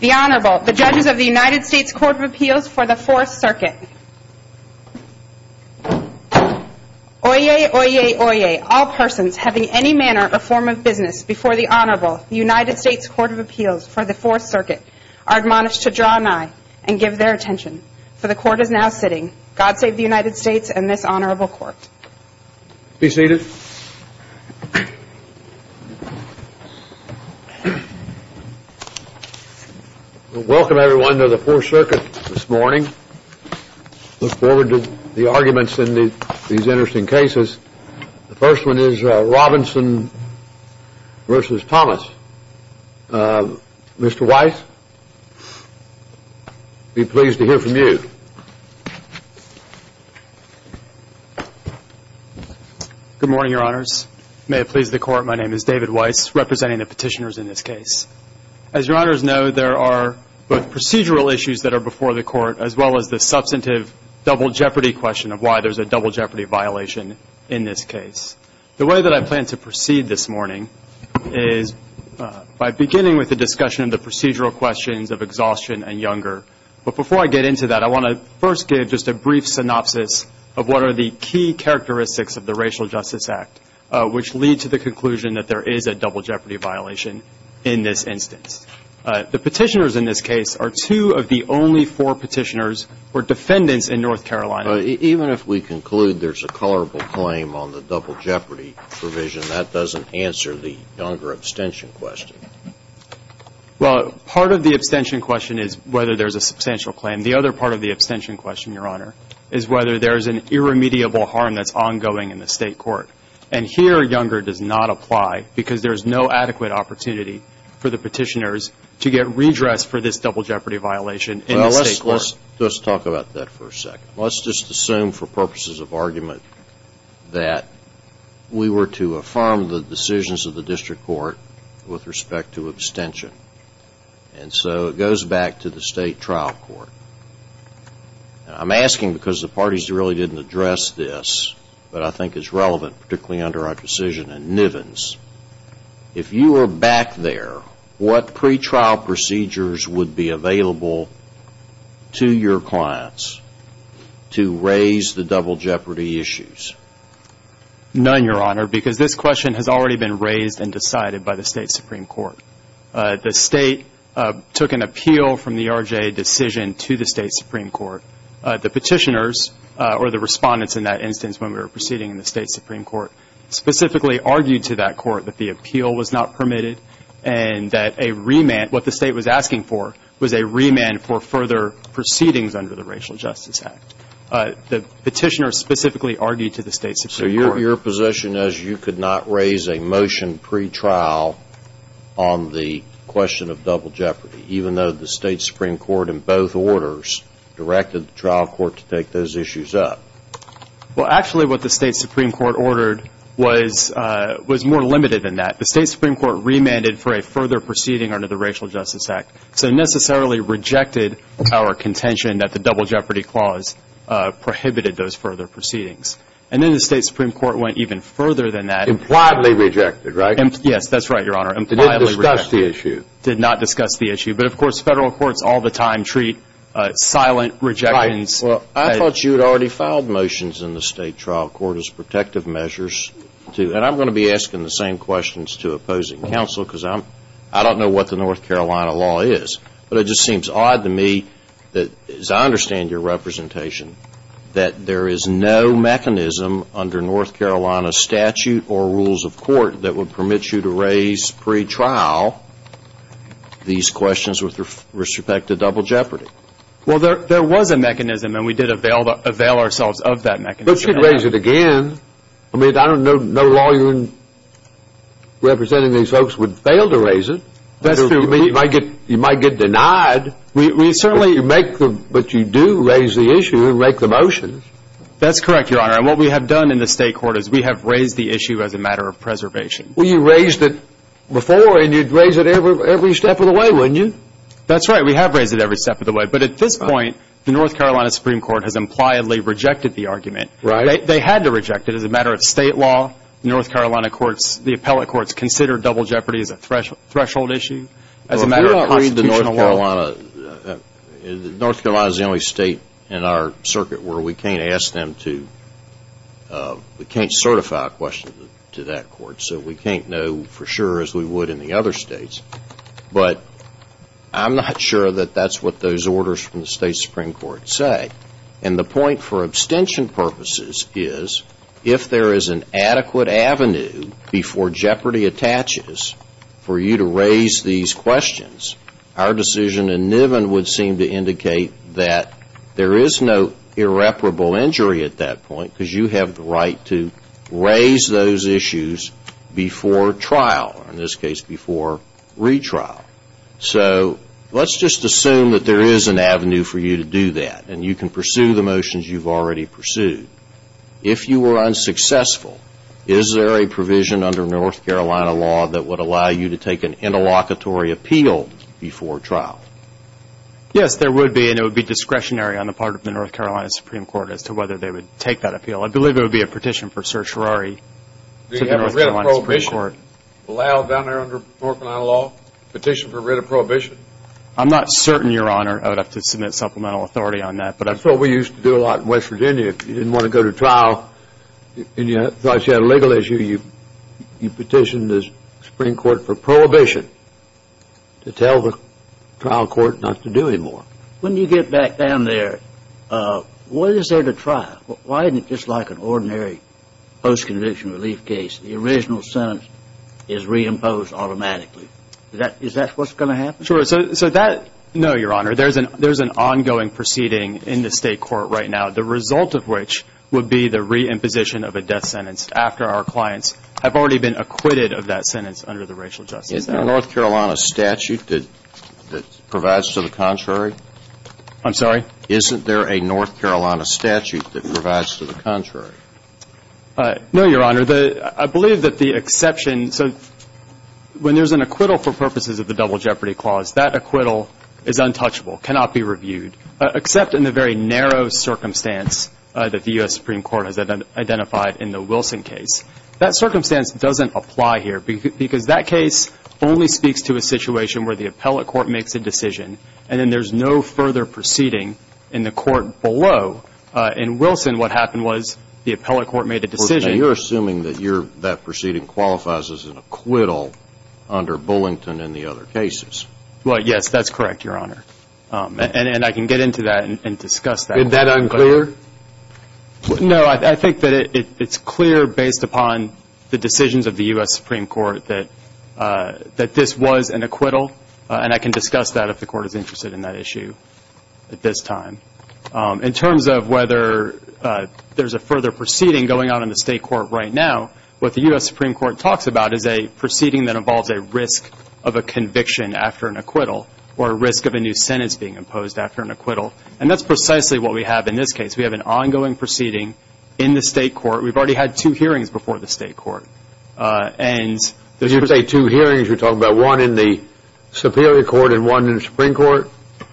The Honorable, the judges of the United States Court of Appeals for the Fourth Circuit. Oyez, oyez, oyez, all persons having any manner or form of business before the Honorable, the United States Court of Appeals for the Fourth Circuit, are admonished to draw an eye and give their attention, for the Court is now sitting. God save the United States and this Honorable Court. Be seated. Welcome, everyone, to the Fourth Circuit this morning. Look forward to the arguments in these interesting cases. The first one is Robinson v. Thomas. Mr. Weiss, be pleased to hear from you. Good morning, Your Honors. May it please the Court, my name is David Weiss, representing the petitioners in this case. As Your Honors know, there are both procedural issues that are before the Court, as well as the substantive double jeopardy question of why there's a double jeopardy violation in this case. The way that I plan to proceed this morning is by beginning with the discussion of the procedural questions of exhaustion and younger. But before I get into that, I want to first give just a brief synopsis of what are the key characteristics of the Racial Justice Act, which lead to the conclusion that there is a double jeopardy violation in this instance. The petitioners in this case are two of the only four petitioners who are defendants in North Carolina. Even if we conclude there's a colorable claim on the double jeopardy provision, that doesn't answer the younger abstention question. Well, part of the abstention question is whether there's a substantial claim. The other part of the abstention question, Your Honor, is whether there's an irremediable harm that's ongoing in the State Court. And here, younger does not apply because there's no adequate opportunity for the petitioners to get redressed for this double jeopardy violation in the State Court. Well, let's talk about that for a second. Let's just assume for purposes of argument that we were to affirm the decisions of the District Court with respect to abstention. And so it goes back to the State Trial Court. I'm asking because the parties really didn't address this, but I think it's relevant, particularly under our decision in Nivens. If you were back there, what pretrial procedures would be available to your clients to raise the double jeopardy issues? None, Your Honor, because this question has already been raised and decided by the State Supreme Court. The State took an appeal from the R.J. decision to the State Supreme Court. The petitioners, or the respondents in that instance when we were proceeding in the State Supreme Court, specifically argued to that court that the appeal was not permitted and that a remand, what the State was asking for was a remand for further proceedings under the Racial Justice Act. The petitioners specifically argued to the State Supreme Court. So your position is you could not raise a motion pretrial on the question of double jeopardy, even though the State Supreme Court in both orders directed the trial court to take those issues up? Well, actually what the State Supreme Court ordered was more limited than that. The State Supreme Court remanded for a further proceeding under the Racial Justice Act, so necessarily rejected our contention that the double jeopardy clause prohibited those further proceedings. And then the State Supreme Court went even further than that. Impliedly rejected, right? Yes, that's right, Your Honor. Impliedly rejected. It didn't discuss the issue. It did not discuss the issue. But, of course, Federal courts all the time treat silent rejections. Right. Well, I thought you had already filed motions in the State trial court as protective measures to, and I'm going to be asking the same questions to opposing counsel because I'm, I don't know what the North Carolina law is, but it just seems odd to me that, as I understand your representation, that there is no mechanism under North Carolina statute or rules of court that would permit you to raise pre-trial these questions with respect to double jeopardy. Well, there was a mechanism, and we did avail ourselves of that mechanism. But you could raise it again. I mean, I don't know no lawyer representing these folks would fail to raise it. That's true. I mean, you might get denied, but you do raise the issue and make the motions. That's correct, Your Honor. And what we have done in the State court is we have raised the issue as a matter of preservation. Well, you raised it before, and you'd raise it every step of the way, wouldn't you? That's right. We have raised it every step of the way. But at this point, the North Carolina Supreme Court has impliedly rejected the argument. Right. They had to reject it as a matter of State law. Well, North Carolina courts, the appellate courts, consider double jeopardy as a threshold issue as a matter of constitutional law. North Carolina is the only state in our circuit where we can't ask them to, we can't certify a question to that court. So we can't know for sure as we would in the other states. But I'm not sure that that's what those orders from the State Supreme Court say. And the point for abstention purposes is if there is an adequate avenue before jeopardy attaches for you to raise these questions, our decision in Niven would seem to indicate that there is no irreparable injury at that point because you have the right to raise those issues before trial, or in this case before retrial. So let's just assume that there is an avenue for you to do that, and you can pursue the motions you've already pursued. If you were unsuccessful, is there a provision under North Carolina law that would allow you to take an interlocutory appeal before trial? Yes, there would be, and it would be discretionary on the part of the North Carolina Supreme Court as to whether they would take that appeal. I believe it would be a petition for certiorari to the North Carolina Supreme Court. Would it allow, down there under North Carolina law, a petition for writ of prohibition? I'm not certain, Your Honor. I would have to submit supplemental authority on that. That's what we used to do a lot in West Virginia. If you didn't want to go to trial and you thought you had a legal issue, you petitioned the Supreme Court for prohibition to tell the trial court not to do any more. When you get back down there, what is there to try? Why isn't it just like an ordinary post-conviction relief case? The original sentence is reimposed automatically. Is that what's going to happen? No, Your Honor. There's an ongoing proceeding in the state court right now, the result of which would be the reimposition of a death sentence after our clients have already been acquitted of that sentence under the racial justice act. Isn't there a North Carolina statute that provides to the contrary? I'm sorry? Isn't there a North Carolina statute that provides to the contrary? No, Your Honor. I believe that the exception, so when there's an acquittal for purposes of the double jeopardy clause, that acquittal is untouchable, cannot be reviewed, except in the very narrow circumstance that the U.S. Supreme Court has identified in the Wilson case. That circumstance doesn't apply here because that case only speaks to a situation where the appellate court makes a decision and then there's no further proceeding in the court below. In Wilson, what happened was the appellate court made a decision. You're assuming that that proceeding qualifies as an acquittal under Bullington and the other cases. Well, yes, that's correct, Your Honor, and I can get into that and discuss that. Is that unclear? No, I think that it's clear based upon the decisions of the U.S. Supreme Court that this was an acquittal, and I can discuss that if the court is interested in that issue at this time. In terms of whether there's a further proceeding going on in the state court right now, what the U.S. Supreme Court talks about is a proceeding that involves a risk of a conviction after an acquittal or a risk of a new sentence being imposed after an acquittal, and that's precisely what we have in this case. We have an ongoing proceeding in the state court. We've already had two hearings before the state court. Did you say two hearings? You're talking about one in the Superior Court and one in the Supreme Court?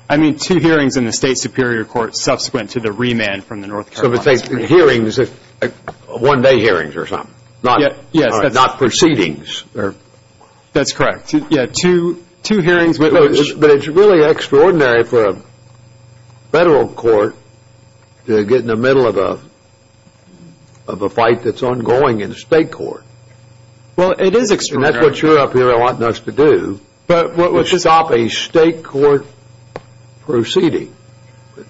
I mean two hearings in the state Superior Court subsequent to the remand from the North Carolina Supreme Court. So hearings are one-day hearings or something, not proceedings. That's correct. Yes, two hearings. But it's really extraordinary for a federal court to get in the middle of a fight that's ongoing in the state court. Well, it is extraordinary. And that's what you're up here wanting us to do, is stop a state court proceeding.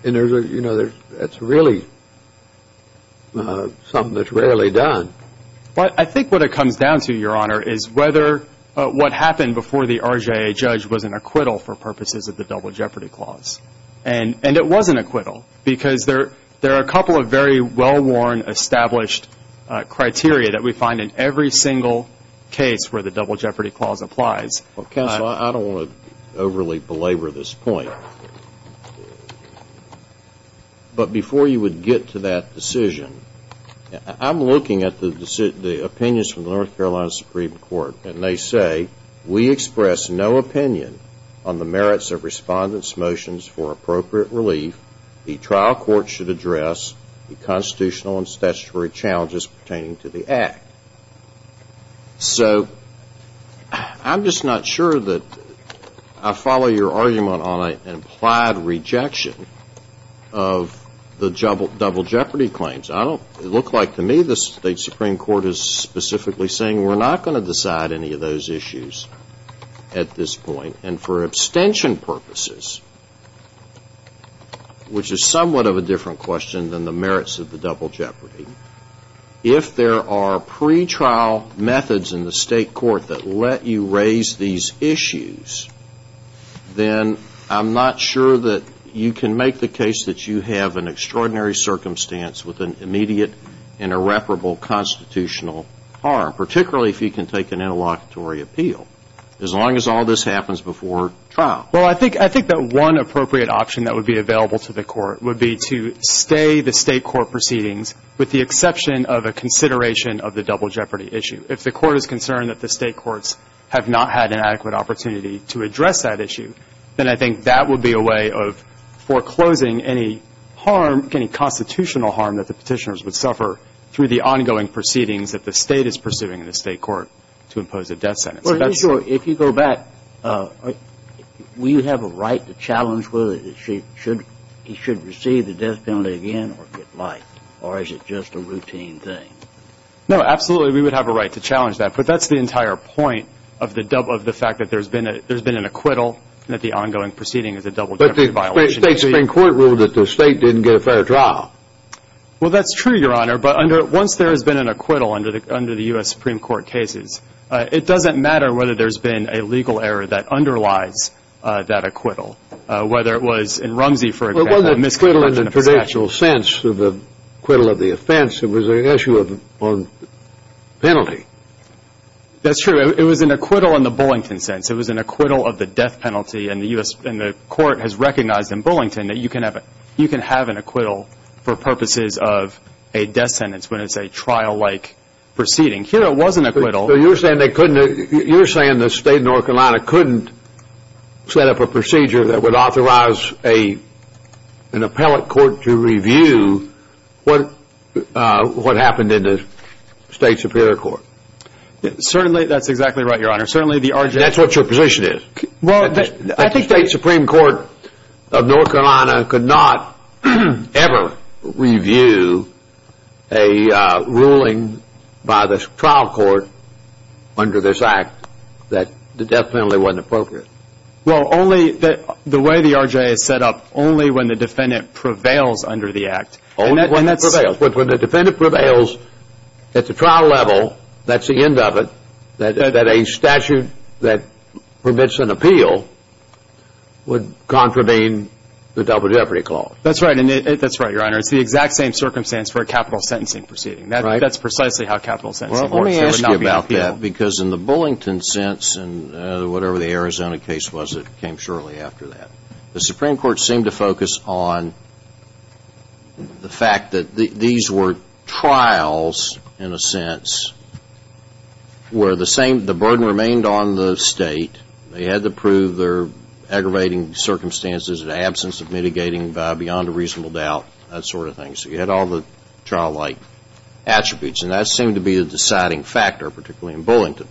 And, you know, that's really something that's rarely done. Well, I think what it comes down to, Your Honor, is whether what happened before the RJA judge was an acquittal for purposes of the Double Jeopardy Clause. And it was an acquittal because there are a couple of very well-worn, established criteria that we find in every single case where the Double Jeopardy Clause applies. Counsel, I don't want to overly belabor this point, but before you would get to that decision, I'm looking at the opinions from the North Carolina Supreme Court, and they say, we express no opinion on the merits of Respondent's motions for appropriate relief the trial court should address the constitutional and statutory challenges pertaining to the Act. So I'm just not sure that I follow your argument on an implied rejection of the Double Jeopardy Claims. It looks like to me the state Supreme Court is specifically saying we're not going to decide any of those issues at this point. And for abstention purposes, which is somewhat of a different question than the merits of the Double Jeopardy, if there are pretrial methods in the state court that let you raise these issues, then I'm not sure that you can make the case that you have an extraordinary circumstance with an immediate and irreparable constitutional harm, particularly if you can take an interlocutory appeal, as long as all this happens before trial. Well, I think that one appropriate option that would be available to the court would be to stay the state court proceedings with the exception of a consideration of the Double Jeopardy issue. If the court is concerned that the state courts have not had an adequate opportunity to address that issue, then I think that would be a way of foreclosing any harm, any constitutional harm that the Petitioners would suffer through the ongoing proceedings that the state is pursuing in the state court to impose a death sentence. Well, here's your – if you go back, will you have a right to challenge whether he should receive the death penalty again or get life, or is it just a routine thing? No, absolutely we would have a right to challenge that, but that's the entire point of the fact that there's been an acquittal and that the ongoing proceeding is a Double Jeopardy violation. But the state Supreme Court ruled that the state didn't get a fair trial. Well, that's true, Your Honor, but once there has been an acquittal under the U.S. Supreme Court cases, it doesn't matter whether there's been a legal error that underlies that acquittal, whether it was in Rumsey, for example. It wasn't an acquittal in the traditional sense of the acquittal of the offense. It was an issue of penalty. That's true. It was an acquittal in the Bullington sense. It was an acquittal of the death penalty, and the U.S. – and the court has recognized in Bullington that you can have an acquittal for purposes of a death sentence when it's a trial-like proceeding. Here it was an acquittal. So you're saying they couldn't – you're saying the state of North Carolina couldn't set up a procedure that would authorize an appellate court to review what happened in the state Superior Court. Certainly, that's exactly right, Your Honor. Certainly, the RJ – That's what your position is. I think the state Supreme Court of North Carolina could not ever review a ruling by the trial court under this act that the death penalty wasn't appropriate. Well, only – the way the RJ is set up, only when the defendant prevails under the act. Only when it prevails. But when the defendant prevails at the trial level, that's the end of it, that a statute that permits an appeal would contravene the Double Jeopardy Clause. That's right. That's right, Your Honor. It's the exact same circumstance for a capital sentencing proceeding. Right. That's precisely how capital sentencing works. Well, let me ask you about that, because in the Bullington sense, and whatever the Arizona case was that came shortly after that, the Supreme Court seemed to focus on the fact that these were trials, in a sense, where the burden remained on the state. They had to prove their aggravating circumstances in the absence of mitigating beyond a reasonable doubt, that sort of thing. So you had all the trial-like attributes. And that seemed to be the deciding factor, particularly in Bullington.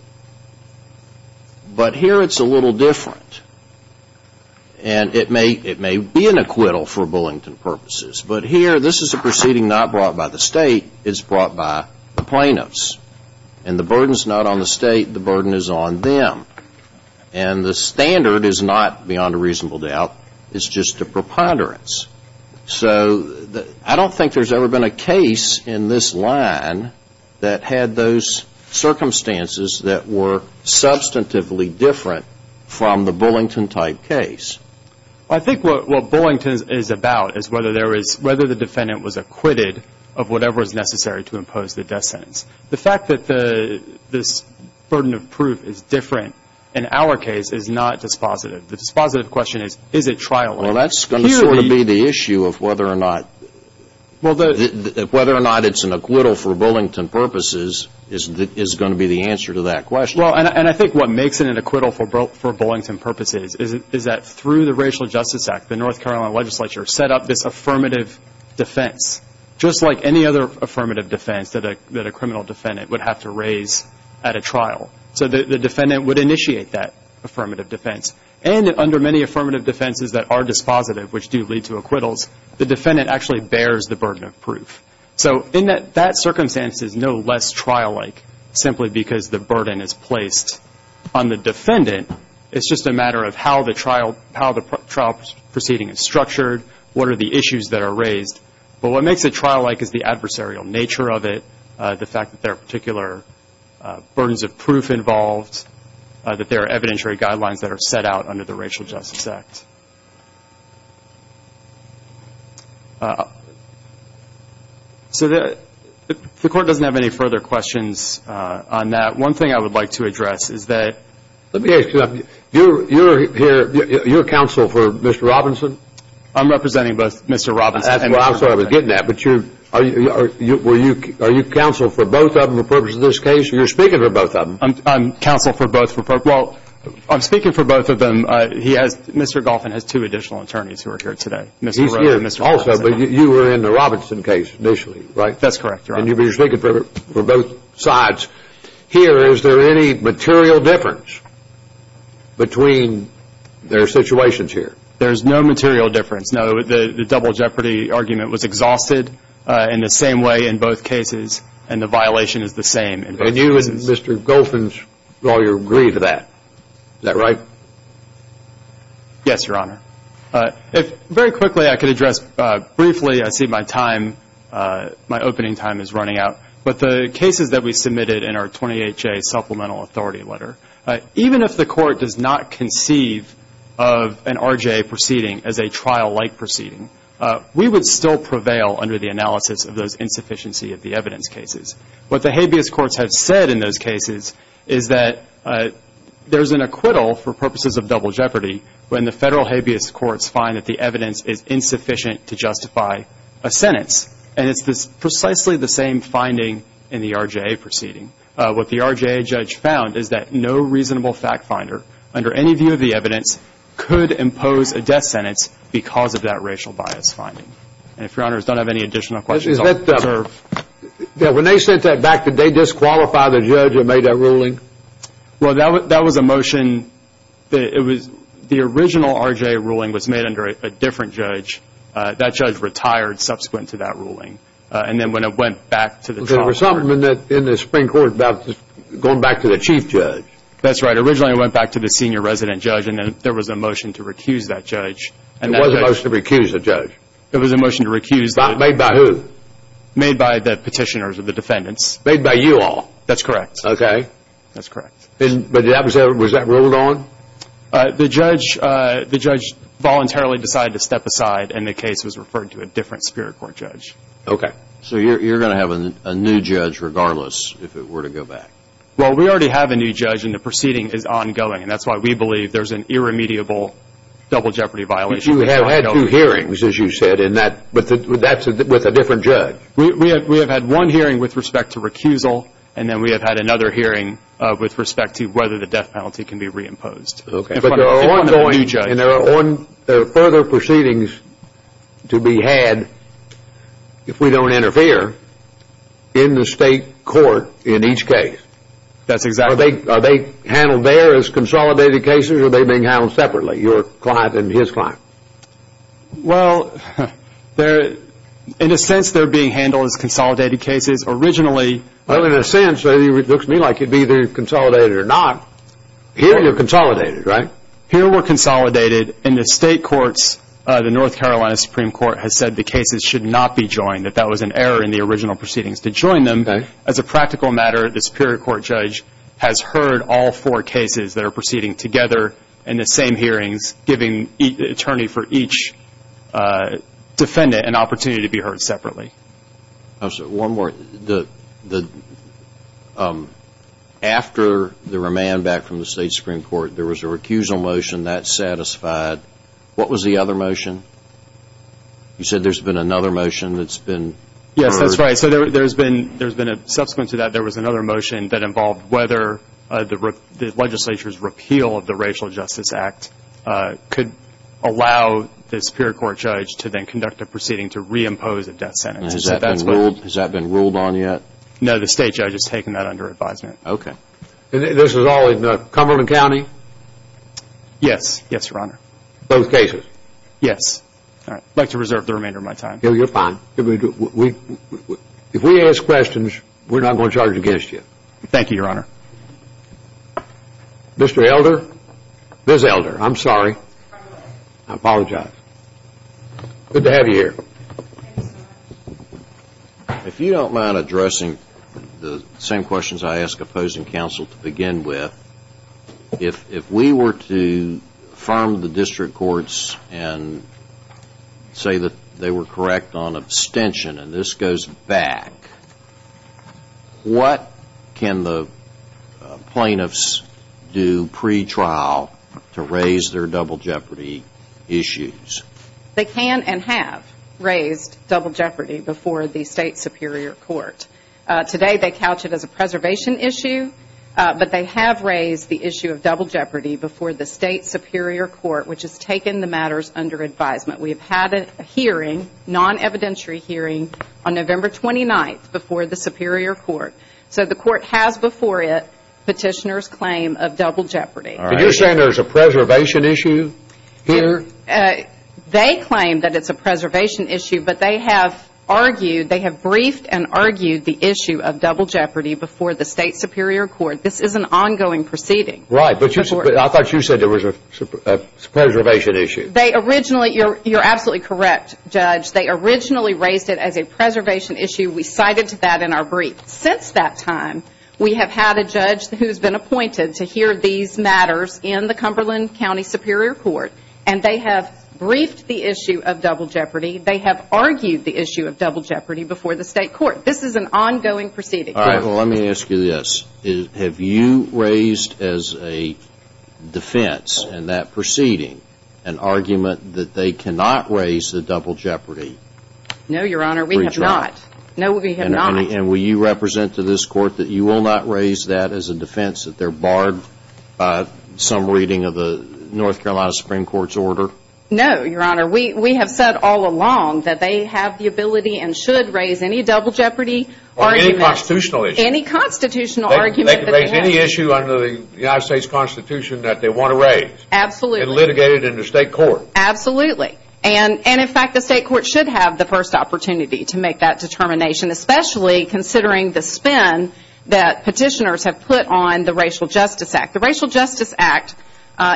But here it's a little different. And it may be an acquittal for Bullington purposes, but here this is a proceeding not brought by the state, it's brought by the plaintiffs. And the burden's not on the state, the burden is on them. And the standard is not beyond a reasonable doubt, it's just a preponderance. So I don't think there's ever been a case in this line that had those circumstances that were substantively different from the Bullington-type case. Well, I think what Bullington is about is whether the defendant was acquitted of whatever was necessary to impose the death sentence. The fact that this burden of proof is different in our case is not dispositive. The dispositive question is, is it trial-like? Well, that's going to sort of be the issue of whether or not it's an acquittal for Bullington purposes is going to be the answer to that question. Well, and I think what makes it an acquittal for Bullington purposes is that through the Racial Justice Act, the North Carolina legislature set up this affirmative defense, just like any other affirmative defense that a criminal defendant would have to raise at a trial. So the defendant would initiate that affirmative defense. And under many affirmative defenses that are dispositive, which do lead to acquittals, the defendant actually bears the burden of proof. So in that circumstance, it's no less trial-like simply because the burden is placed on the defendant. It's just a matter of how the trial proceeding is structured, what are the issues that are raised. But what makes it trial-like is the adversarial nature of it, the fact that there are particular burdens of proof involved, that there are evidentiary guidelines that are set out under the Racial Justice Act. So the Court doesn't have any further questions on that. One thing I would like to address is that— Let me ask you something. You're counsel for Mr. Robinson? I'm representing both Mr. Robinson and Mr. Bullington. I'm sorry, I was getting that. But are you counsel for both of them for the purpose of this case, or you're speaking for both of them? I'm counsel for both. Well, I'm speaking for both of them. Mr. Goffin has two additional attorneys who are here today, Mr. Rowe and Mr. Robinson. He's here also, but you were in the Robinson case initially, right? That's correct, Your Honor. And you were speaking for both sides. Here, is there any material difference between their situations here? There's no material difference, no. The double jeopardy argument was exhausted in the same way in both cases, and the violation is the same in both cases. And you and Mr. Goffin's lawyer agree to that. Is that right? Yes, Your Honor. If very quickly I could address briefly, I see my time, my opening time is running out, but the cases that we submitted in our 28-J supplemental authority letter, even if the Court does not conceive of an RJA proceeding as a trial-like proceeding, we would still prevail under the analysis of those insufficiency of the evidence cases. What the habeas courts have said in those cases is that there's an acquittal for purposes of double jeopardy when the federal habeas courts find that the evidence is insufficient to justify a sentence. And it's precisely the same finding in the RJA proceeding. What the RJA judge found is that no reasonable fact finder, under any view of the evidence, could impose a death sentence because of that racial bias finding. And if Your Honors don't have any additional questions, I'll reserve. When they sent that back, did they disqualify the judge that made that ruling? Well, that was a motion. The original RJA ruling was made under a different judge. That judge retired subsequent to that ruling. And then when it went back to the trial court. There was something in the Supreme Court about going back to the chief judge. That's right. Originally it went back to the senior resident judge, and then there was a motion to recuse that judge. It wasn't a motion to recuse the judge. It was a motion to recuse. Made by who? Made by the petitioners or the defendants. Made by you all? That's correct. Okay. That's correct. Was that ruled on? The judge voluntarily decided to step aside, and the case was referred to a different Superior Court judge. Okay. So you're going to have a new judge regardless if it were to go back? Well, we already have a new judge, and the proceeding is ongoing. And that's why we believe there's an irremediable double jeopardy violation. But you have had two hearings, as you said, with a different judge. We have had one hearing with respect to recusal, and then we have had another hearing with respect to whether the death penalty can be reimposed. Okay. And there are further proceedings to be had, if we don't interfere, in the state court in each case. That's exactly right. Are they handled there as consolidated cases, or are they being handled separately, your client and his client? Well, in a sense, they're being handled as consolidated cases. Originally, Well, in a sense, it looks to me like it would be either consolidated or not. Here, you're consolidated, right? Here, we're consolidated. In the state courts, the North Carolina Supreme Court has said the cases should not be joined, that that was an error in the original proceedings. To join them, as a practical matter, has heard all four cases that are proceeding together in the same hearings, giving the attorney for each defendant an opportunity to be heard separately. One more. After the remand back from the state Supreme Court, there was a recusal motion. That satisfied. What was the other motion? You said there's been another motion that's been heard. Yes, that's right. So there's been a subsequent to that. There was another motion that involved whether the legislature's repeal of the Racial Justice Act could allow the Superior Court judge to then conduct a proceeding to reimpose a death sentence. Has that been ruled on yet? No, the state judge has taken that under advisement. Okay. This is all in Cumberland County? Yes, yes, Your Honor. Both cases? Yes. I'd like to reserve the remainder of my time. No, you're fine. If we ask questions, we're not going to charge against you. Thank you, Your Honor. Mr. Elder, Ms. Elder, I'm sorry. I apologize. Good to have you here. If you don't mind addressing the same questions I ask opposing counsel to begin with, if we were to affirm the district courts and say that they were correct on abstention, and this goes back, what can the plaintiffs do pretrial to raise their double jeopardy issues? They can and have raised double jeopardy before the state Superior Court. Today they couch it as a preservation issue, but they have raised the issue of double jeopardy before the state Superior Court, which has taken the matters under advisement. We have had a hearing, non-evidentiary hearing, on November 29th before the Superior Court. So the court has before it petitioner's claim of double jeopardy. All right. Are you saying there's a preservation issue here? They claim that it's a preservation issue, but they have argued, they have briefed and argued the issue of double jeopardy before the state Superior Court. This is an ongoing proceeding. Right, but I thought you said there was a preservation issue. You're absolutely correct, Judge. They originally raised it as a preservation issue. We cited that in our brief. Since that time, we have had a judge who's been appointed to hear these matters in the Cumberland County Superior Court, and they have briefed the issue of double jeopardy. They have argued the issue of double jeopardy before the state court. This is an ongoing proceeding. All right. Well, let me ask you this. Have you raised as a defense in that proceeding an argument that they cannot raise the double jeopardy? No, Your Honor. We have not. No, we have not. And will you represent to this court that you will not raise that as a defense, that they're barred by some reading of the North Carolina Supreme Court's order? No, Your Honor. We have said all along that they have the ability and should raise any double jeopardy argument. Or any constitutional issue. Any constitutional argument. They can raise any issue under the United States Constitution that they want to raise. Absolutely. And litigate it in the state court. Absolutely. And, in fact, the state court should have the first opportunity to make that determination, especially considering the spin that petitioners have put on the Racial Justice Act. The Racial Justice Act,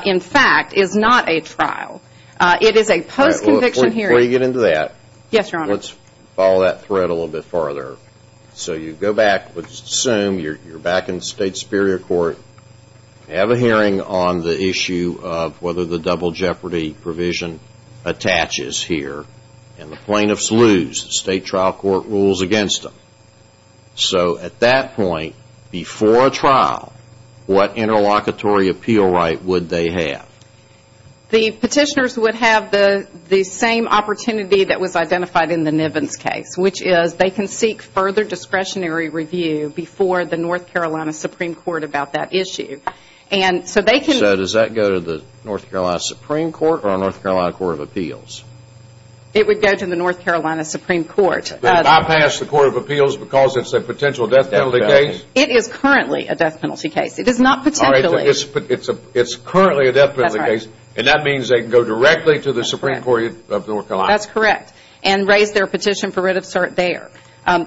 in fact, is not a trial. It is a post-conviction hearing. Before you get into that. Yes, Your Honor. Let's follow that thread a little bit farther. So you go back, let's assume you're back in state superior court, have a hearing on the issue of whether the double jeopardy provision attaches here, and the plaintiffs lose. The state trial court rules against them. So, at that point, before a trial, what interlocutory appeal right would they have? The petitioners would have the same opportunity that was identified in the Nivens case, which is they can seek further discretionary review before the North Carolina Supreme Court about that issue. So does that go to the North Carolina Supreme Court or the North Carolina Court of Appeals? It would go to the North Carolina Supreme Court. Bypass the Court of Appeals because it's a potential death penalty case? It is currently a death penalty case. It is not potentially. It's currently a death penalty case, and that means they can go directly to the Supreme Court of North Carolina. That's correct, and raise their petition for writ of cert there.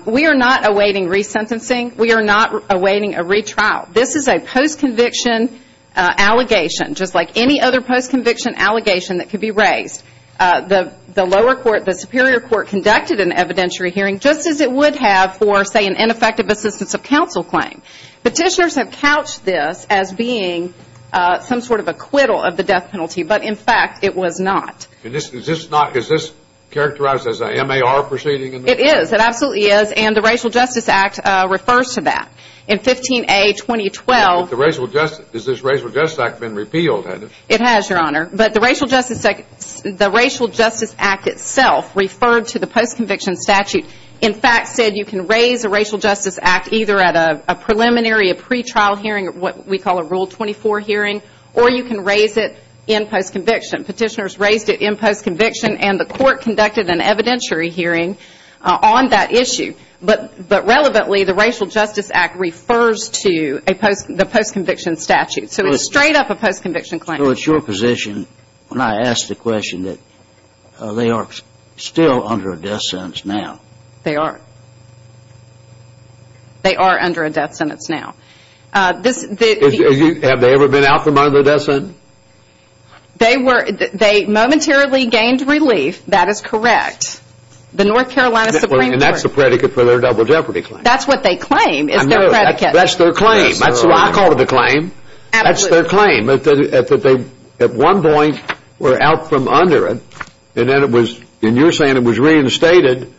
We are not awaiting resentencing. We are not awaiting a retrial. This is a post-conviction allegation, just like any other post-conviction allegation that could be raised. The lower court, the superior court, conducted an evidentiary hearing, just as it would have for, say, an ineffective assistance of counsel claim. Petitioners have couched this as being some sort of acquittal of the death penalty, but, in fact, it was not. Is this characterized as a MAR proceeding? It is. It absolutely is, and the Racial Justice Act refers to that. In 15A, 2012. Has this Racial Justice Act been repealed? It has, Your Honor. But the Racial Justice Act itself referred to the post-conviction statute, and, in fact, said you can raise a Racial Justice Act either at a preliminary, a pretrial hearing, what we call a Rule 24 hearing, or you can raise it in post-conviction. Petitioners raised it in post-conviction, and the court conducted an evidentiary hearing on that issue. But, relevantly, the Racial Justice Act refers to the post-conviction statute. So it's straight up a post-conviction claim. So it's your position, when I ask the question, that they are still under a death sentence now. They are. They are under a death sentence now. Have they ever been out from under a death sentence? They momentarily gained relief. That is correct. The North Carolina Supreme Court. And that's the predicate for their double jeopardy claim. That's what they claim is their predicate. That's their claim. That's what I call the claim. Absolutely. That's their claim, that they at one point were out from under it, and then it was, and you're saying it was reinstated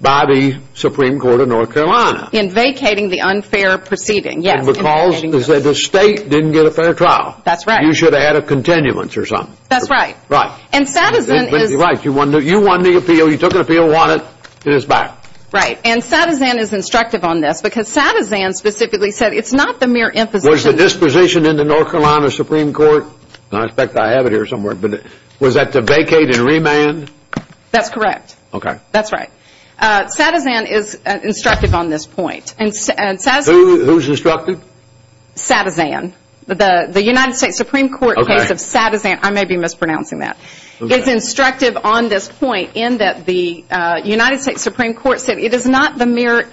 by the Supreme Court of North Carolina. In vacating the unfair proceeding, yes. And the cause is that the state didn't get a fair trial. That's right. You should have had a continuance or something. That's right. Right. Right. You won the appeal. You took an appeal, won it, and it's back. Right. And Satizan is instructive on this, because Satizan specifically said it's not the mere imposition. Was the disposition in the North Carolina Supreme Court, and I expect I have it here somewhere, but was that to vacate and remand? That's correct. Okay. That's right. Satizan is instructive on this point. Who's instructive? Satizan. The United States Supreme Court case of Satizan, I may be mispronouncing that, is instructive on this point in that the United States Supreme Court said it is not the mere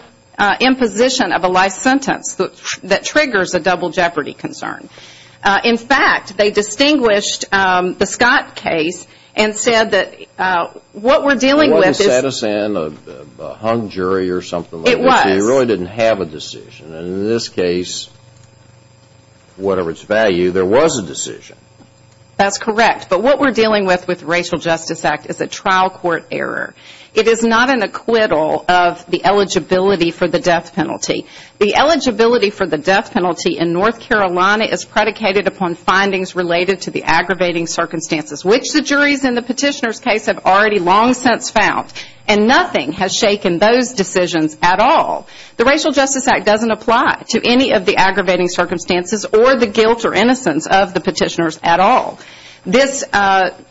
imposition of a life sentence that triggers a double jeopardy concern. In fact, they distinguished the Scott case and said that what we're dealing with is It wasn't Satizan, a hung jury or something like that. It was. They really didn't have a decision. And in this case, whatever its value, there was a decision. That's correct. But what we're dealing with with the Racial Justice Act is a trial court error. It is not an acquittal of the eligibility for the death penalty. The eligibility for the death penalty in North Carolina is predicated upon findings related to the aggravating circumstances, which the juries in the petitioner's case have already long since found. And nothing has shaken those decisions at all. The Racial Justice Act doesn't apply to any of the aggravating circumstances or the guilt or innocence of the petitioners at all. This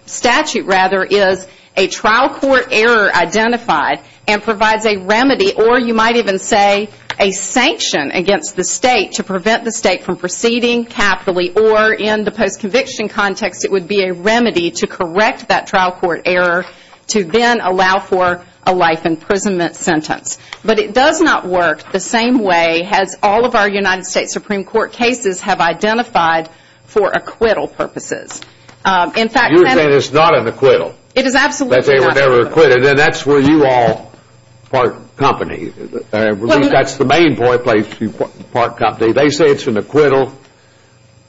statute, rather, is a trial court error identified and provides a remedy or you might even say a sanction against the state to prevent the state from proceeding capitally or in the post-conviction context, it would be a remedy to correct that trial court error to then allow for a life imprisonment sentence. But it does not work the same way as all of our United States Supreme Court cases have identified for acquittal purposes. You're saying it's not an acquittal. It is absolutely not an acquittal. But they were never acquitted, and that's where you all part company. At least that's the main place you part company. They say it's an acquittal.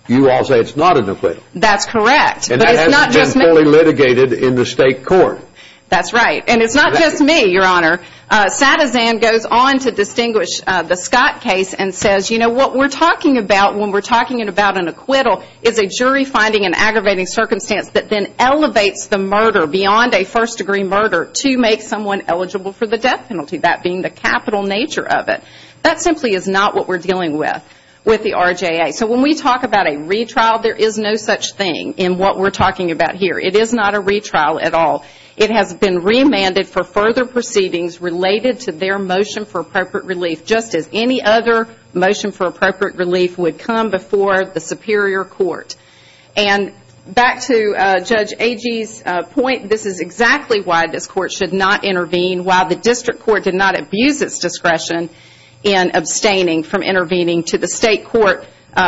You all say it's not an acquittal. That's correct. And it hasn't been fully litigated in the state court. That's right. And it's not just me, Your Honor. Sadazan goes on to distinguish the Scott case and says, you know, what we're talking about when we're talking about an acquittal is a jury finding an aggravating circumstance that then elevates the murder beyond a first-degree murder to make someone eligible for the death penalty, that being the capital nature of it. That simply is not what we're dealing with with the RJA. So when we talk about a retrial, there is no such thing in what we're talking about here. It is not a retrial at all. It has been remanded for further proceedings related to their motion for appropriate relief, just as any other motion for appropriate relief would come before the Superior Court. And back to Judge Agee's point, this is exactly why this court should not intervene, why the district court did not abuse its discretion in abstaining from intervening to the state court,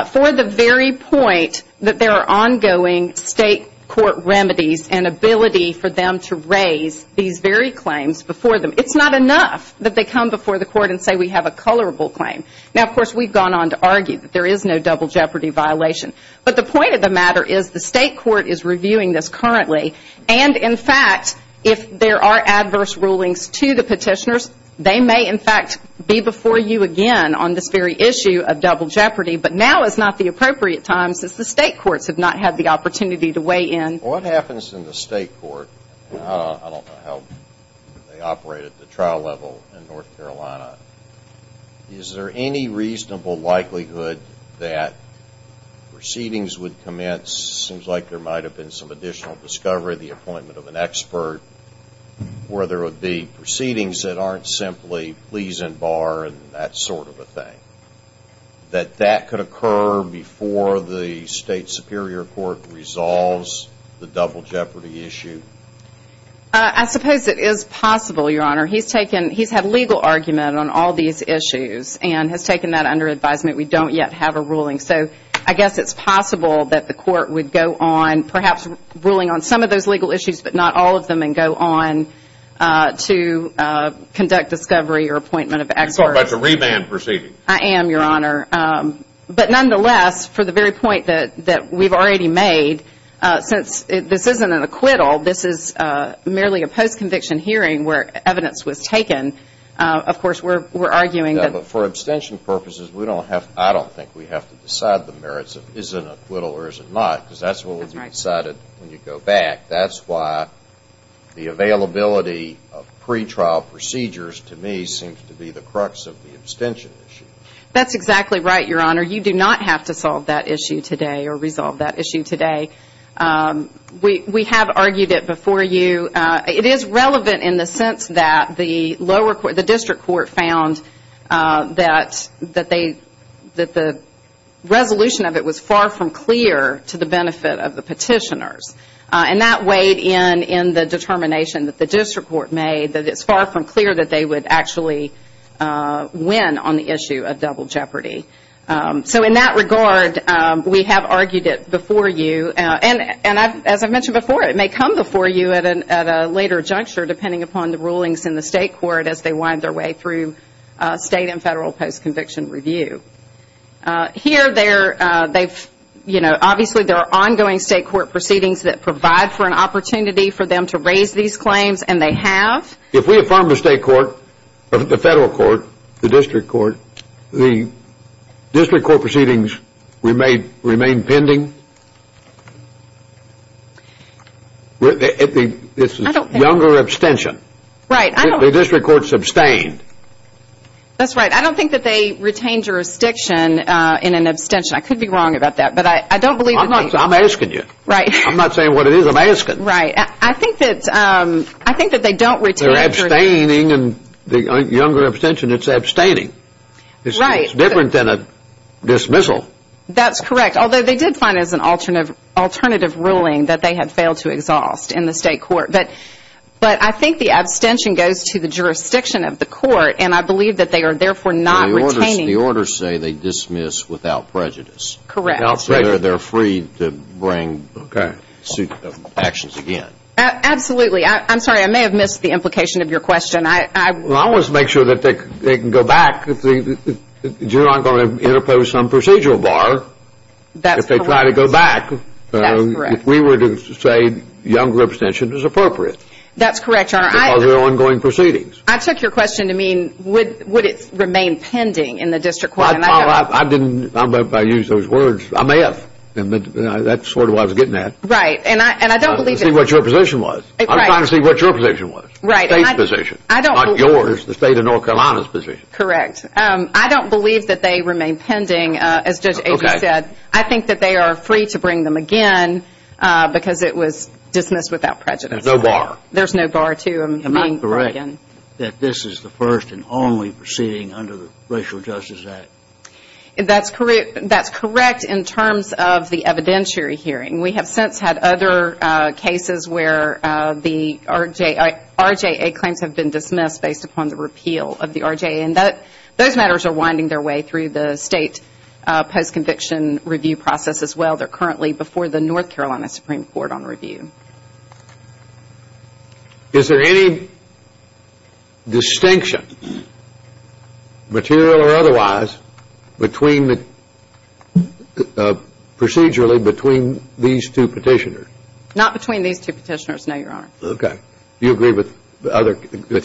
for the very point that there are ongoing state court remedies and ability for them to raise these very claims before them. It's not enough that they come before the court and say we have a colorable claim. Now, of course, we've gone on to argue that there is no double jeopardy violation. But the point of the matter is the state court is reviewing this currently. And, in fact, if there are adverse rulings to the petitioners, they may, in fact, be before you again on this very issue of double jeopardy. But now is not the appropriate time since the state courts have not had the opportunity to weigh in. What happens in the state court? I don't know how they operate at the trial level in North Carolina. Is there any reasonable likelihood that proceedings would commence, seems like there might have been some additional discovery, the appointment of an expert, where there would be proceedings that aren't simply pleas and bar and that sort of a thing, that that could occur before the state superior court resolves the double jeopardy issue? I suppose it is possible, Your Honor. He's taken he's had legal argument on all these issues and has taken that under advisement. We don't yet have a ruling. So I guess it's possible that the court would go on perhaps ruling on some of those legal issues, but not all of them, and go on to conduct discovery or appointment of experts. Are you talking about the re-ban proceedings? I am, Your Honor. But, nonetheless, for the very point that we've already made, since this isn't an acquittal, this is merely a post-conviction hearing where evidence was taken, of course, we're arguing that. But for abstention purposes, I don't think we have to decide the merits of is it an acquittal or is it not, because that's what will be decided when you go back. That's why the availability of pretrial procedures, to me, seems to be the crux of the abstention issue. That's exactly right, Your Honor. You do not have to solve that issue today or resolve that issue today. We have argued it before you. It is relevant in the sense that the lower court, the district court, found that the resolution of it was far from clear to the benefit of the petitioners. And that weighed in in the determination that the district court made, that it's far from clear that they would actually win on the issue of double jeopardy. So in that regard, we have argued it before you. And as I mentioned before, it may come before you at a later juncture, depending upon the rulings in the state court as they wind their way through state and federal post-conviction review. Here, obviously, there are ongoing state court proceedings that provide for an opportunity for them to raise these claims, and they have. If we affirm the state court, the federal court, the district court, the district court proceedings remain pending? It's a younger abstention. Right. The district court sustained. That's right. I don't think that they retain jurisdiction in an abstention. I could be wrong about that, but I don't believe that they – I'm asking you. Right. I'm not saying what it is I'm asking. Right. I think that they don't retain – They're abstaining, and the younger abstention, it's abstaining. Right. It's different than a dismissal. That's correct, although they did find as an alternative ruling that they had failed to exhaust in the state court. But I think the abstention goes to the jurisdiction of the court, and I believe that they are therefore not retaining – The orders say they dismiss without prejudice. Correct. They're free to bring actions again. Absolutely. I'm sorry, I may have missed the implication of your question. I want to make sure that they can go back. You're not going to interpose some procedural bar if they try to go back. That's correct. If we were to say younger abstention is appropriate. That's correct, Your Honor. Because they're ongoing proceedings. I took your question to mean would it remain pending in the district court? Well, I didn't – I don't know if I used those words. I may have. That's sort of what I was getting at. Right, and I don't believe – To see what your position was. Right. I'm trying to see what your position was. State's position, not yours, the state of North Carolina's position. Correct. I don't believe that they remain pending, as Judge Avery said. I think that they are free to bring them again because it was dismissed without prejudice. There's no bar. There's no bar to them being brought again. That this is the first and only proceeding under the Racial Justice Act. That's correct in terms of the evidentiary hearing. We have since had other cases where the RJA claims have been dismissed based upon the repeal of the RJA. And those matters are winding their way through the state post-conviction review process as well. They're currently before the North Carolina Supreme Court on review. Is there any distinction, material or otherwise, procedurally between these two petitioners? Not between these two petitioners, no, Your Honor. Okay. Do you agree with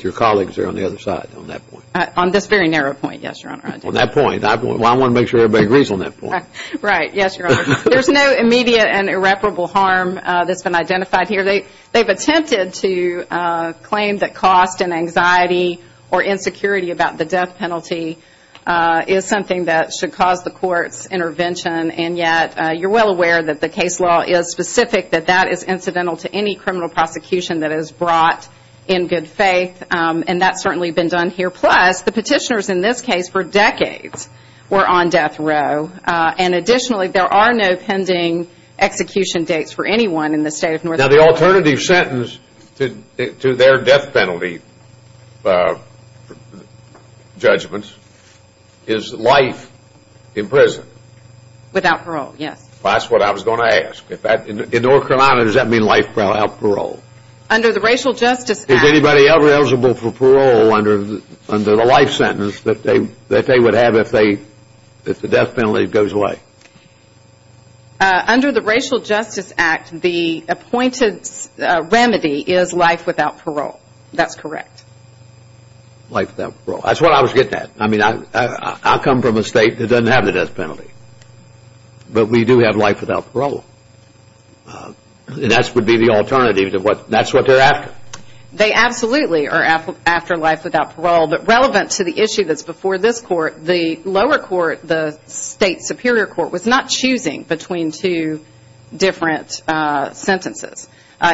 your colleagues there on the other side on that point? On this very narrow point, yes, Your Honor, I do. On that point. Well, I want to make sure everybody agrees on that point. Right, yes, Your Honor. There's no immediate and irreparable harm that's been identified here. They've attempted to claim that cost and anxiety or insecurity about the death penalty is something that should cause the court's intervention. And yet, you're well aware that the case law is specific that that is incidental to any criminal prosecution that is brought in good faith. And that's certainly been done here. Plus, the petitioners in this case for decades were on death row. And additionally, there are no pending execution dates for anyone in the state of North Carolina. Now, the alternative sentence to their death penalty judgments is life in prison. Without parole, yes. That's what I was going to ask. In North Carolina, does that mean life without parole? Under the Racial Justice Act. Is anybody ever eligible for parole under the life sentence that they would have if the death penalty goes away? Under the Racial Justice Act, the appointed remedy is life without parole. That's correct. Life without parole. That's what I was getting at. I mean, I come from a state that doesn't have the death penalty. But we do have life without parole. And that would be the alternative. That's what they're after. They absolutely are after life without parole. But relevant to the issue that's before this court, the lower court, the state superior court, was not choosing between two different sentences.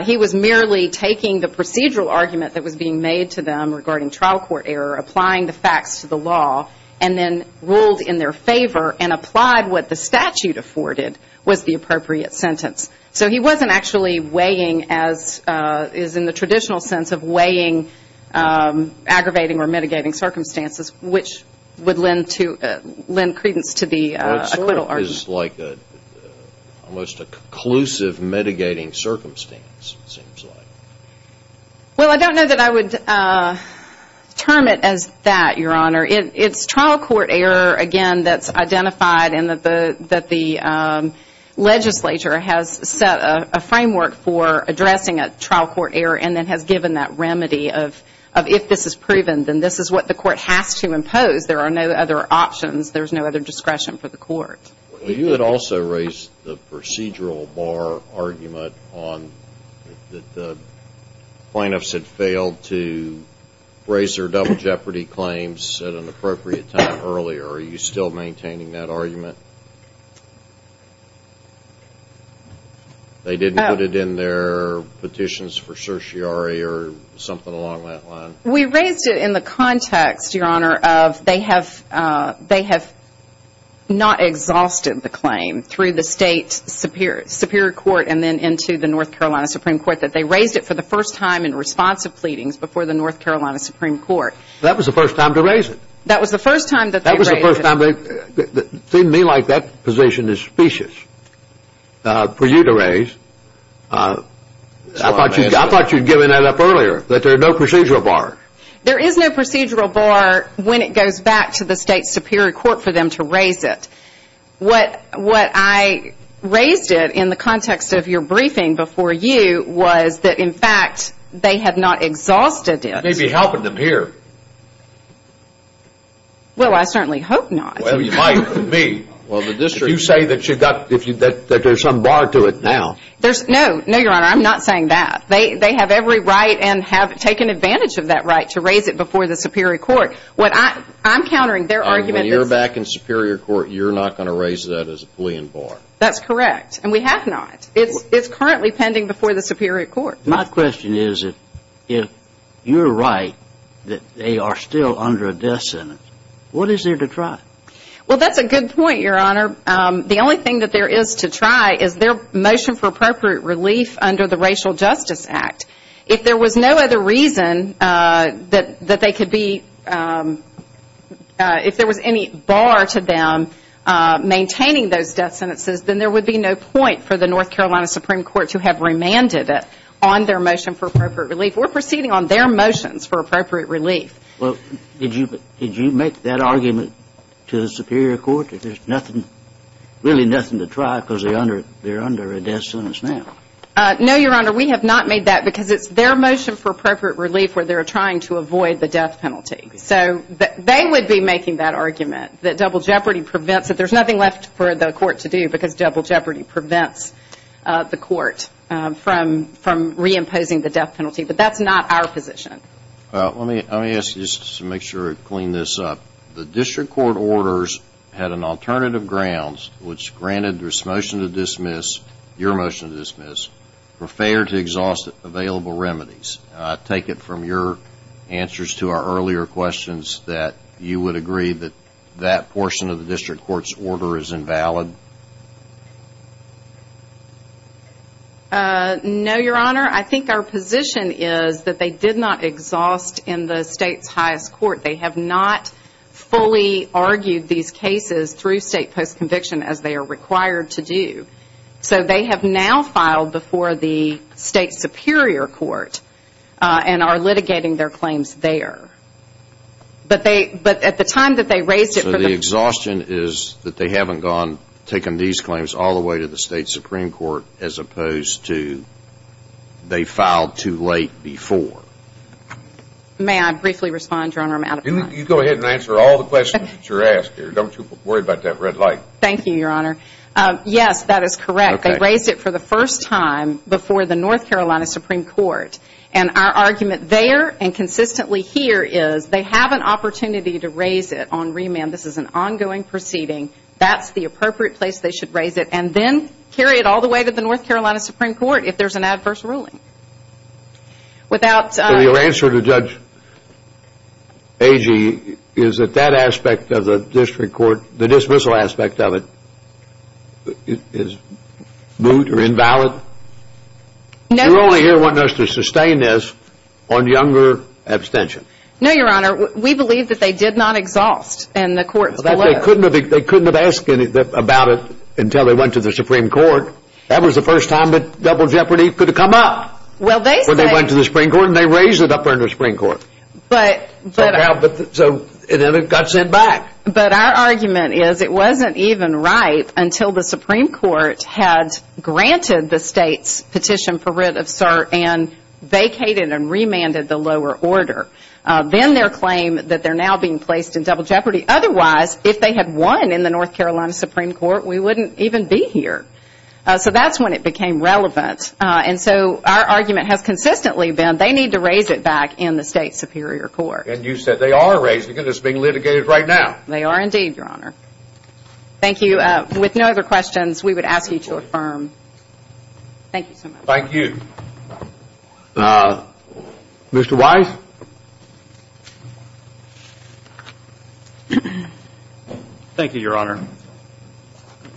He was merely taking the procedural argument that was being made to them regarding trial court error, applying the facts to the law, and then ruled in their favor and applied what the statute afforded was the appropriate sentence. So he wasn't actually weighing, as is in the traditional sense of weighing, aggravating or mitigating circumstances, which would lend credence to the accrual argument. Well, it's like almost a conclusive mitigating circumstance, it seems like. Well, I don't know that I would term it as that, Your Honor. It's trial court error, again, that's identified and that the legislature has set a framework for addressing a trial court error and then has given that remedy of if this is proven, then this is what the court has to impose. There are no other options. There's no other discretion for the court. You had also raised the procedural bar argument that the plaintiffs had failed to raise their double jeopardy claims at an appropriate time earlier. Are you still maintaining that argument? They didn't put it in their petitions for certiorari or something along that line? We raised it in the context, Your Honor, of they have not exhausted the claim through the state superior court and then into the North Carolina Supreme Court, that they raised it for the first time in responsive pleadings before the North Carolina Supreme Court. That was the first time to raise it? That was the first time that they raised it. That was the first time. It seemed to me like that position is specious for you to raise. I thought you'd given that up earlier, that there's no procedural bar. There is no procedural bar when it goes back to the state superior court for them to raise it. What I raised it in the context of your briefing before you was that, in fact, they have not exhausted it. You may be helping them here. Well, I certainly hope not. Well, you might with me. If you say that there's some bar to it now. No, Your Honor, I'm not saying that. They have every right and have taken advantage of that right to raise it before the superior court. What I'm countering, their argument is When you're back in superior court, you're not going to raise that as a plea in bar. That's correct, and we have not. It's currently pending before the superior court. My question is, if you're right that they are still under a death sentence, what is there to try? Well, that's a good point, Your Honor. The only thing that there is to try is their motion for appropriate relief under the Racial Justice Act. If there was no other reason that they could be If there was any bar to them maintaining those death sentences, then there would be no point for the North Carolina Supreme Court to have remanded it on their motion for appropriate relief. We're proceeding on their motions for appropriate relief. Well, did you make that argument to the superior court that there's really nothing to try because they're under a death sentence now? No, Your Honor. We have not made that because it's their motion for appropriate relief where they're trying to avoid the death penalty. So they would be making that argument that double jeopardy prevents it. There's nothing left for the court to do because double jeopardy prevents the court from reimposing the death penalty. But that's not our position. Well, let me ask you just to make sure to clean this up. The district court orders had an alternative grounds, which granted this motion to dismiss, your motion to dismiss, for failure to exhaust available remedies. Take it from your answers to our earlier questions that you would agree that that portion of the district court's order is invalid. No, Your Honor. I think our position is that they did not exhaust in the state's highest court. They have not fully argued these cases through state post-conviction as they are required to do. So they have now filed before the state superior court and are litigating their claims there. So the exhaustion is that they haven't taken these claims all the way to the state supreme court as opposed to they filed too late before. May I briefly respond, Your Honor? I'm out of time. You go ahead and answer all the questions that you're asked here. Don't you worry about that red light. Thank you, Your Honor. Yes, that is correct. They raised it for the first time before the North Carolina Supreme Court. And our argument there and consistently here is they have an opportunity to raise it on remand. This is an ongoing proceeding. That's the appropriate place they should raise it. And then carry it all the way to the North Carolina Supreme Court if there's an adverse ruling. So your answer to Judge Agee is that that aspect of the district court, the dismissal aspect of it, is moot or invalid? You're only here wanting us to sustain this on younger abstention. No, Your Honor. We believe that they did not exhaust in the court below. But they couldn't have asked about it until they went to the Supreme Court. That was the first time that double jeopardy could have come up when they went to the Supreme Court. And they raised it up there in the Supreme Court. So then it got sent back. But our argument is it wasn't even right until the Supreme Court had granted the state's petition for writ of cert and vacated and remanded the lower order. Then their claim that they're now being placed in double jeopardy. Otherwise, if they had won in the North Carolina Supreme Court, we wouldn't even be here. So that's when it became relevant. And so our argument has consistently been they need to raise it back in the state superior court. And you said they are raising it. It's being litigated right now. They are indeed, Your Honor. Thank you. With no other questions, we would ask you to affirm. Thank you so much. Thank you. Mr. Wise? Thank you, Your Honor.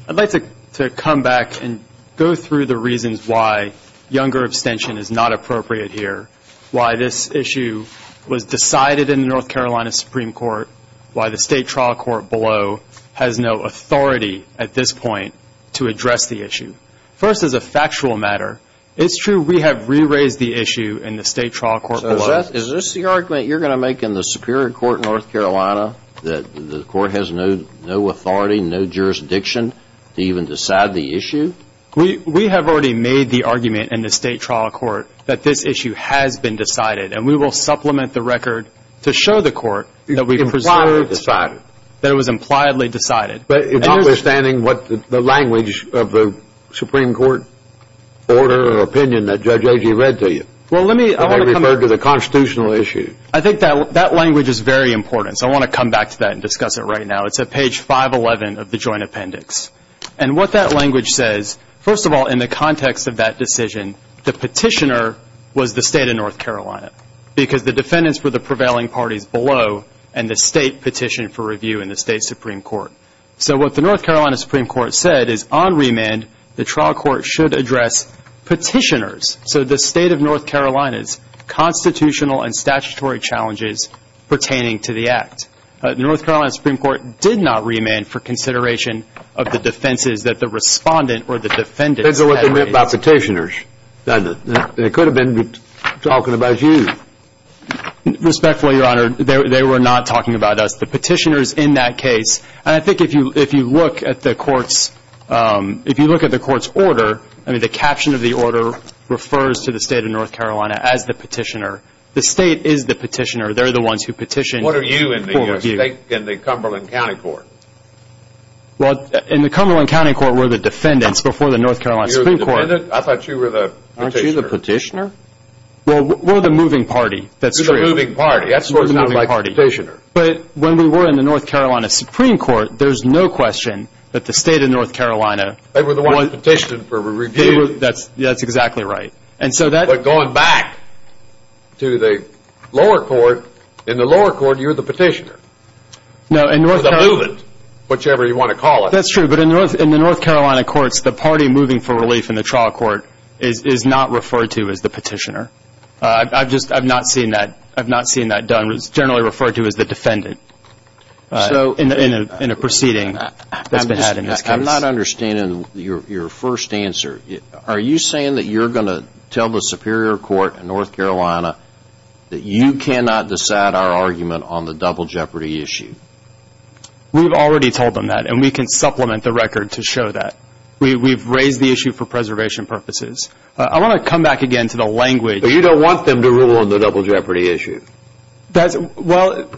I'd like to come back and go through the reasons why younger abstention is not appropriate here, why this issue was decided in the North Carolina Supreme Court, why the state trial court below has no authority at this point to address the issue. First, as a factual matter, it's true we have re-raised the issue in the state trial court below. So is this the argument you're going to make in the superior court in North Carolina, that the court has no authority, no jurisdiction to even decide the issue? We have already made the argument in the state trial court that this issue has been decided, and we will supplement the record to show the court that we preserved it. It was impliedly decided. That it was impliedly decided. But notwithstanding what the language of the Supreme Court order or opinion that Judge Agee read to you. Well, let me, I want to come back. They referred to the constitutional issue. I think that language is very important, so I want to come back to that and discuss it right now. It's at page 511 of the joint appendix. And what that language says, first of all, in the context of that decision, the petitioner was the state of North Carolina, because the defendants were the prevailing parties below, and the state petitioned for review in the state Supreme Court. So what the North Carolina Supreme Court said is on remand, the trial court should address petitioners, so the state of North Carolina's constitutional and statutory challenges pertaining to the act. North Carolina Supreme Court did not remand for consideration of the defenses that the respondent or the defendant. That's what they meant by petitioners. They could have been talking about you. Respectfully, Your Honor, they were not talking about us. The petitioners in that case, and I think if you look at the court's, if you look at the court's order, I mean, the caption of the order refers to the state of North Carolina as the petitioner. The state is the petitioner. They're the ones who petitioned for review. What are you in the Cumberland County Court? Well, in the Cumberland County Court were the defendants before the North Carolina Supreme Court. You were the defendant? I thought you were the petitioner. Aren't you the petitioner? Well, we're the moving party. You're the moving party. That's what it sounds like, petitioner. But when we were in the North Carolina Supreme Court, there's no question that the state of North Carolina They were the ones who petitioned for review. That's exactly right. But going back to the lower court, in the lower court, you're the petitioner. No, in North Carolina Or the moving, whichever you want to call it. That's true, but in the North Carolina courts, the party moving for relief in the trial court is not referred to as the petitioner. I've not seen that done. It's generally referred to as the defendant in a proceeding that's been had in this case. I'm not understanding your first answer. Are you saying that you're going to tell the Superior Court in North Carolina that you cannot decide our argument on the double jeopardy issue? We've already told them that, and we can supplement the record to show that. We've raised the issue for preservation purposes. I want to come back again to the language But you don't want them to rule on the double jeopardy issue. Well,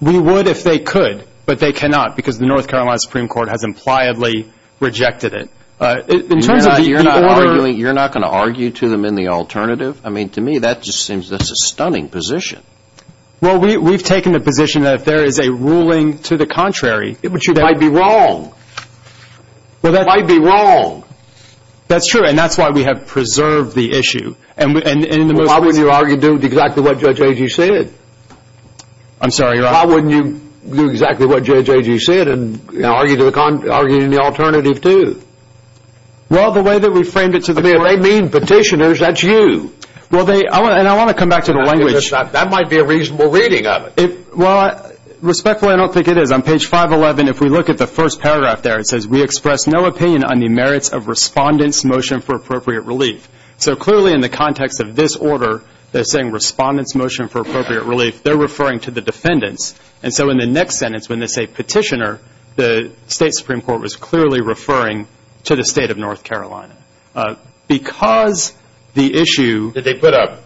we would if they could, but they cannot because the North Carolina Supreme Court has impliedly rejected it. You're not going to argue to them in the alternative? I mean, to me, that just seems like a stunning position. Well, we've taken the position that if there is a ruling to the contrary, they might be wrong. They might be wrong. That's true, and that's why we have preserved the issue. Why wouldn't you do exactly what Judge Agee said? I'm sorry, your Honor? Well, the way that we framed it to the court I mean, if they mean petitioners, that's you. And I want to come back to the language That might be a reasonable reading of it. Well, respectfully, I don't think it is. On page 511, if we look at the first paragraph there, it says, We express no opinion on the merits of Respondent's Motion for Appropriate Relief. So clearly, in the context of this order, they're saying Respondent's Motion for Appropriate Relief. They're referring to the defendants. And so in the next sentence, when they say petitioner, the State Supreme Court was clearly referring to the State of North Carolina. Because the issue Did they put an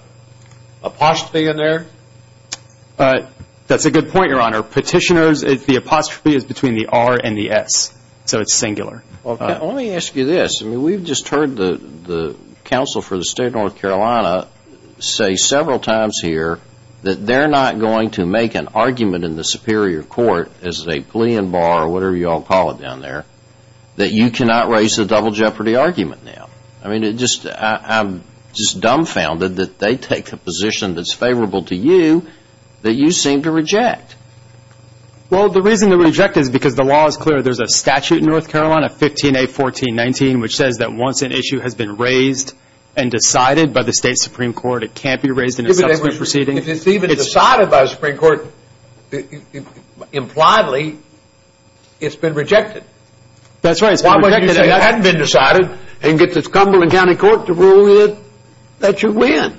apostrophe in there? That's a good point, your Honor. Petitioners, the apostrophe is between the R and the S. So it's singular. Well, let me ask you this. We've just heard the counsel for the State of North Carolina say several times here that they're not going to make an argument in the Superior Court as a plea in bar or whatever you all call it down there that you cannot raise the double jeopardy argument now. I mean, I'm just dumbfounded that they take a position that's favorable to you that you seem to reject. Well, the reason to reject it is because the law is clear. There's a statute in North Carolina, 15A.14.19, which says that once an issue has been raised and decided by the State Supreme Court, it can't be raised in a subsequent proceeding. If it's even decided by the Supreme Court impliedly, it's been rejected. That's right. Why would you say it hadn't been decided and get the Cumberland County Court to rule it that you win?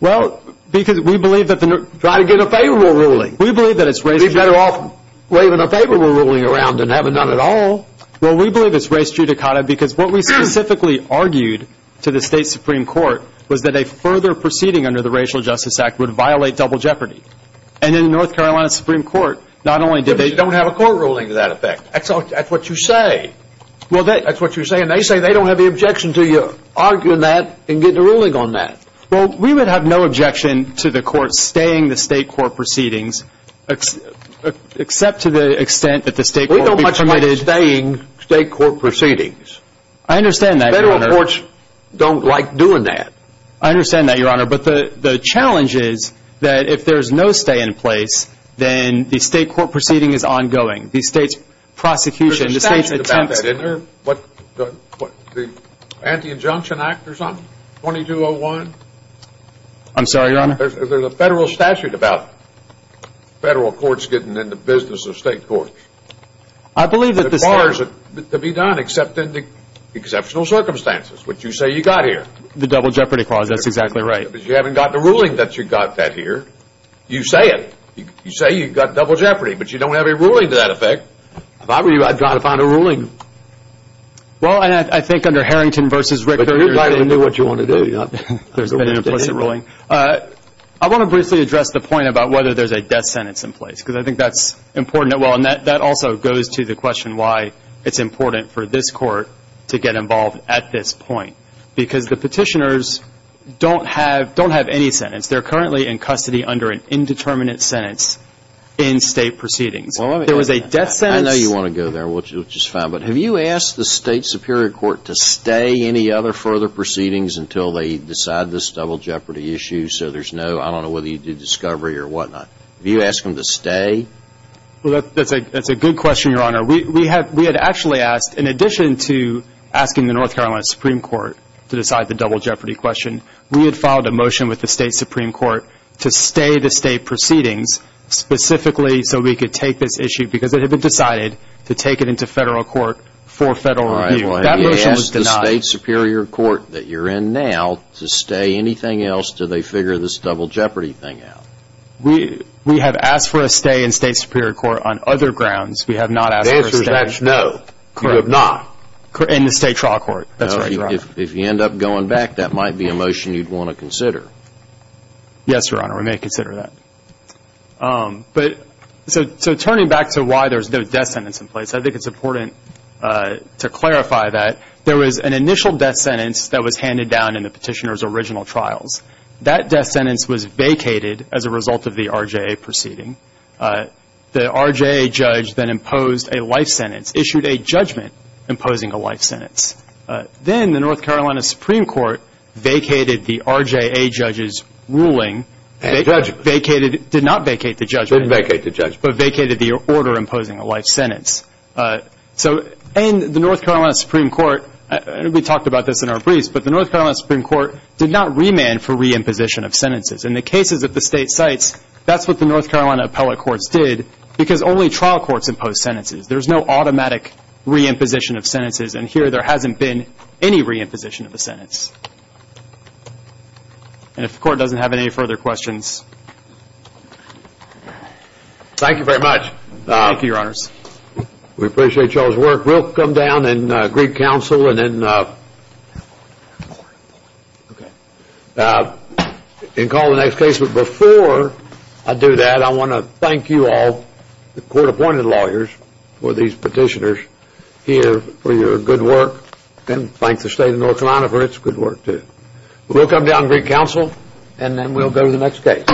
Well, because we believe that the Try to get a favorable ruling. We believe that it's race judicata. You'd be better off waving a favorable ruling around than having none at all. Well, we believe it's race judicata because what we specifically argued to the State Supreme Court was that a further proceeding under the Racial Justice Act would violate double jeopardy. And in the North Carolina Supreme Court, not only did they You don't have a court ruling to that effect. That's what you say. That's what you're saying. They say they don't have the objection to you arguing that and getting a ruling on that. Well, we would have no objection to the court staying the state court proceedings except to the extent that the state court We don't much mind staying state court proceedings. I understand that, Your Honor. But the courts don't like doing that. I understand that, Your Honor. But the challenge is that if there's no stay in place, then the state court proceeding is ongoing. The state's prosecution, the state's attempts There's a statute about that, isn't there? The Anti-Injunction Act or something? 2201? I'm sorry, Your Honor? There's a federal statute about federal courts getting in the business of state courts. The bar is to be done except in the exceptional circumstances, which you say you got here. The Double Jeopardy Clause, that's exactly right. But you haven't got the ruling that you got that here. You say it. You say you got double jeopardy, but you don't have a ruling to that effect. If I were you, I'd try to find a ruling. Well, I think under Harrington v. Ricker, But you're not going to do what you want to do. There's been an implicit ruling. I want to briefly address the point about whether there's a death sentence in place because I think that's important. That also goes to the question why it's important for this court to get involved at this point. Because the petitioners don't have any sentence. They're currently in custody under an indeterminate sentence in state proceedings. There was a death sentence. I know you want to go there, which is fine. But have you asked the state superior court to stay any other further proceedings until they decide this double jeopardy issue? So there's no, I don't know whether you did discovery or whatnot. Have you asked them to stay? Well, that's a good question, Your Honor. We had actually asked, in addition to asking the North Carolina Supreme Court to decide the double jeopardy question, we had filed a motion with the state supreme court to stay the state proceedings specifically so we could take this issue because it had been decided to take it into federal court for federal review. That motion was denied. All right. Well, have you asked the state superior court that you're in now to stay anything else until they figure this double jeopardy thing out? We have asked for a stay in state superior court on other grounds. We have not asked for a stay. The answer is that's no. Correct. You have not. In the state trial court. That's right, Your Honor. If you end up going back, that might be a motion you'd want to consider. Yes, Your Honor. We may consider that. So turning back to why there's no death sentence in place, I think it's important to clarify that there was an initial death sentence that was handed down in the petitioner's original trials. That death sentence was vacated as a result of the RJA proceeding. The RJA judge then imposed a life sentence, issued a judgment imposing a life sentence. Then the North Carolina Supreme Court vacated the RJA judge's ruling. And judgment. Vacated. Did not vacate the judgment. Didn't vacate the judgment. But vacated the order imposing a life sentence. So in the North Carolina Supreme Court, and we talked about this in our briefs, but the North Carolina Supreme Court did not remand for re-imposition of sentences. In the cases that the state cites, that's what the North Carolina appellate courts did because only trial courts impose sentences. There's no automatic re-imposition of sentences. And here there hasn't been any re-imposition of a sentence. And if the court doesn't have any further questions. Thank you very much. Thank you, Your Honors. We appreciate y'all's work. We'll come down and greet counsel and then call the next case. But before I do that, I want to thank you all, the court-appointed lawyers, for these petitioners here for your good work. And thanks to the state of North Carolina for its good work too. We'll come down and greet counsel and then we'll go to the next case.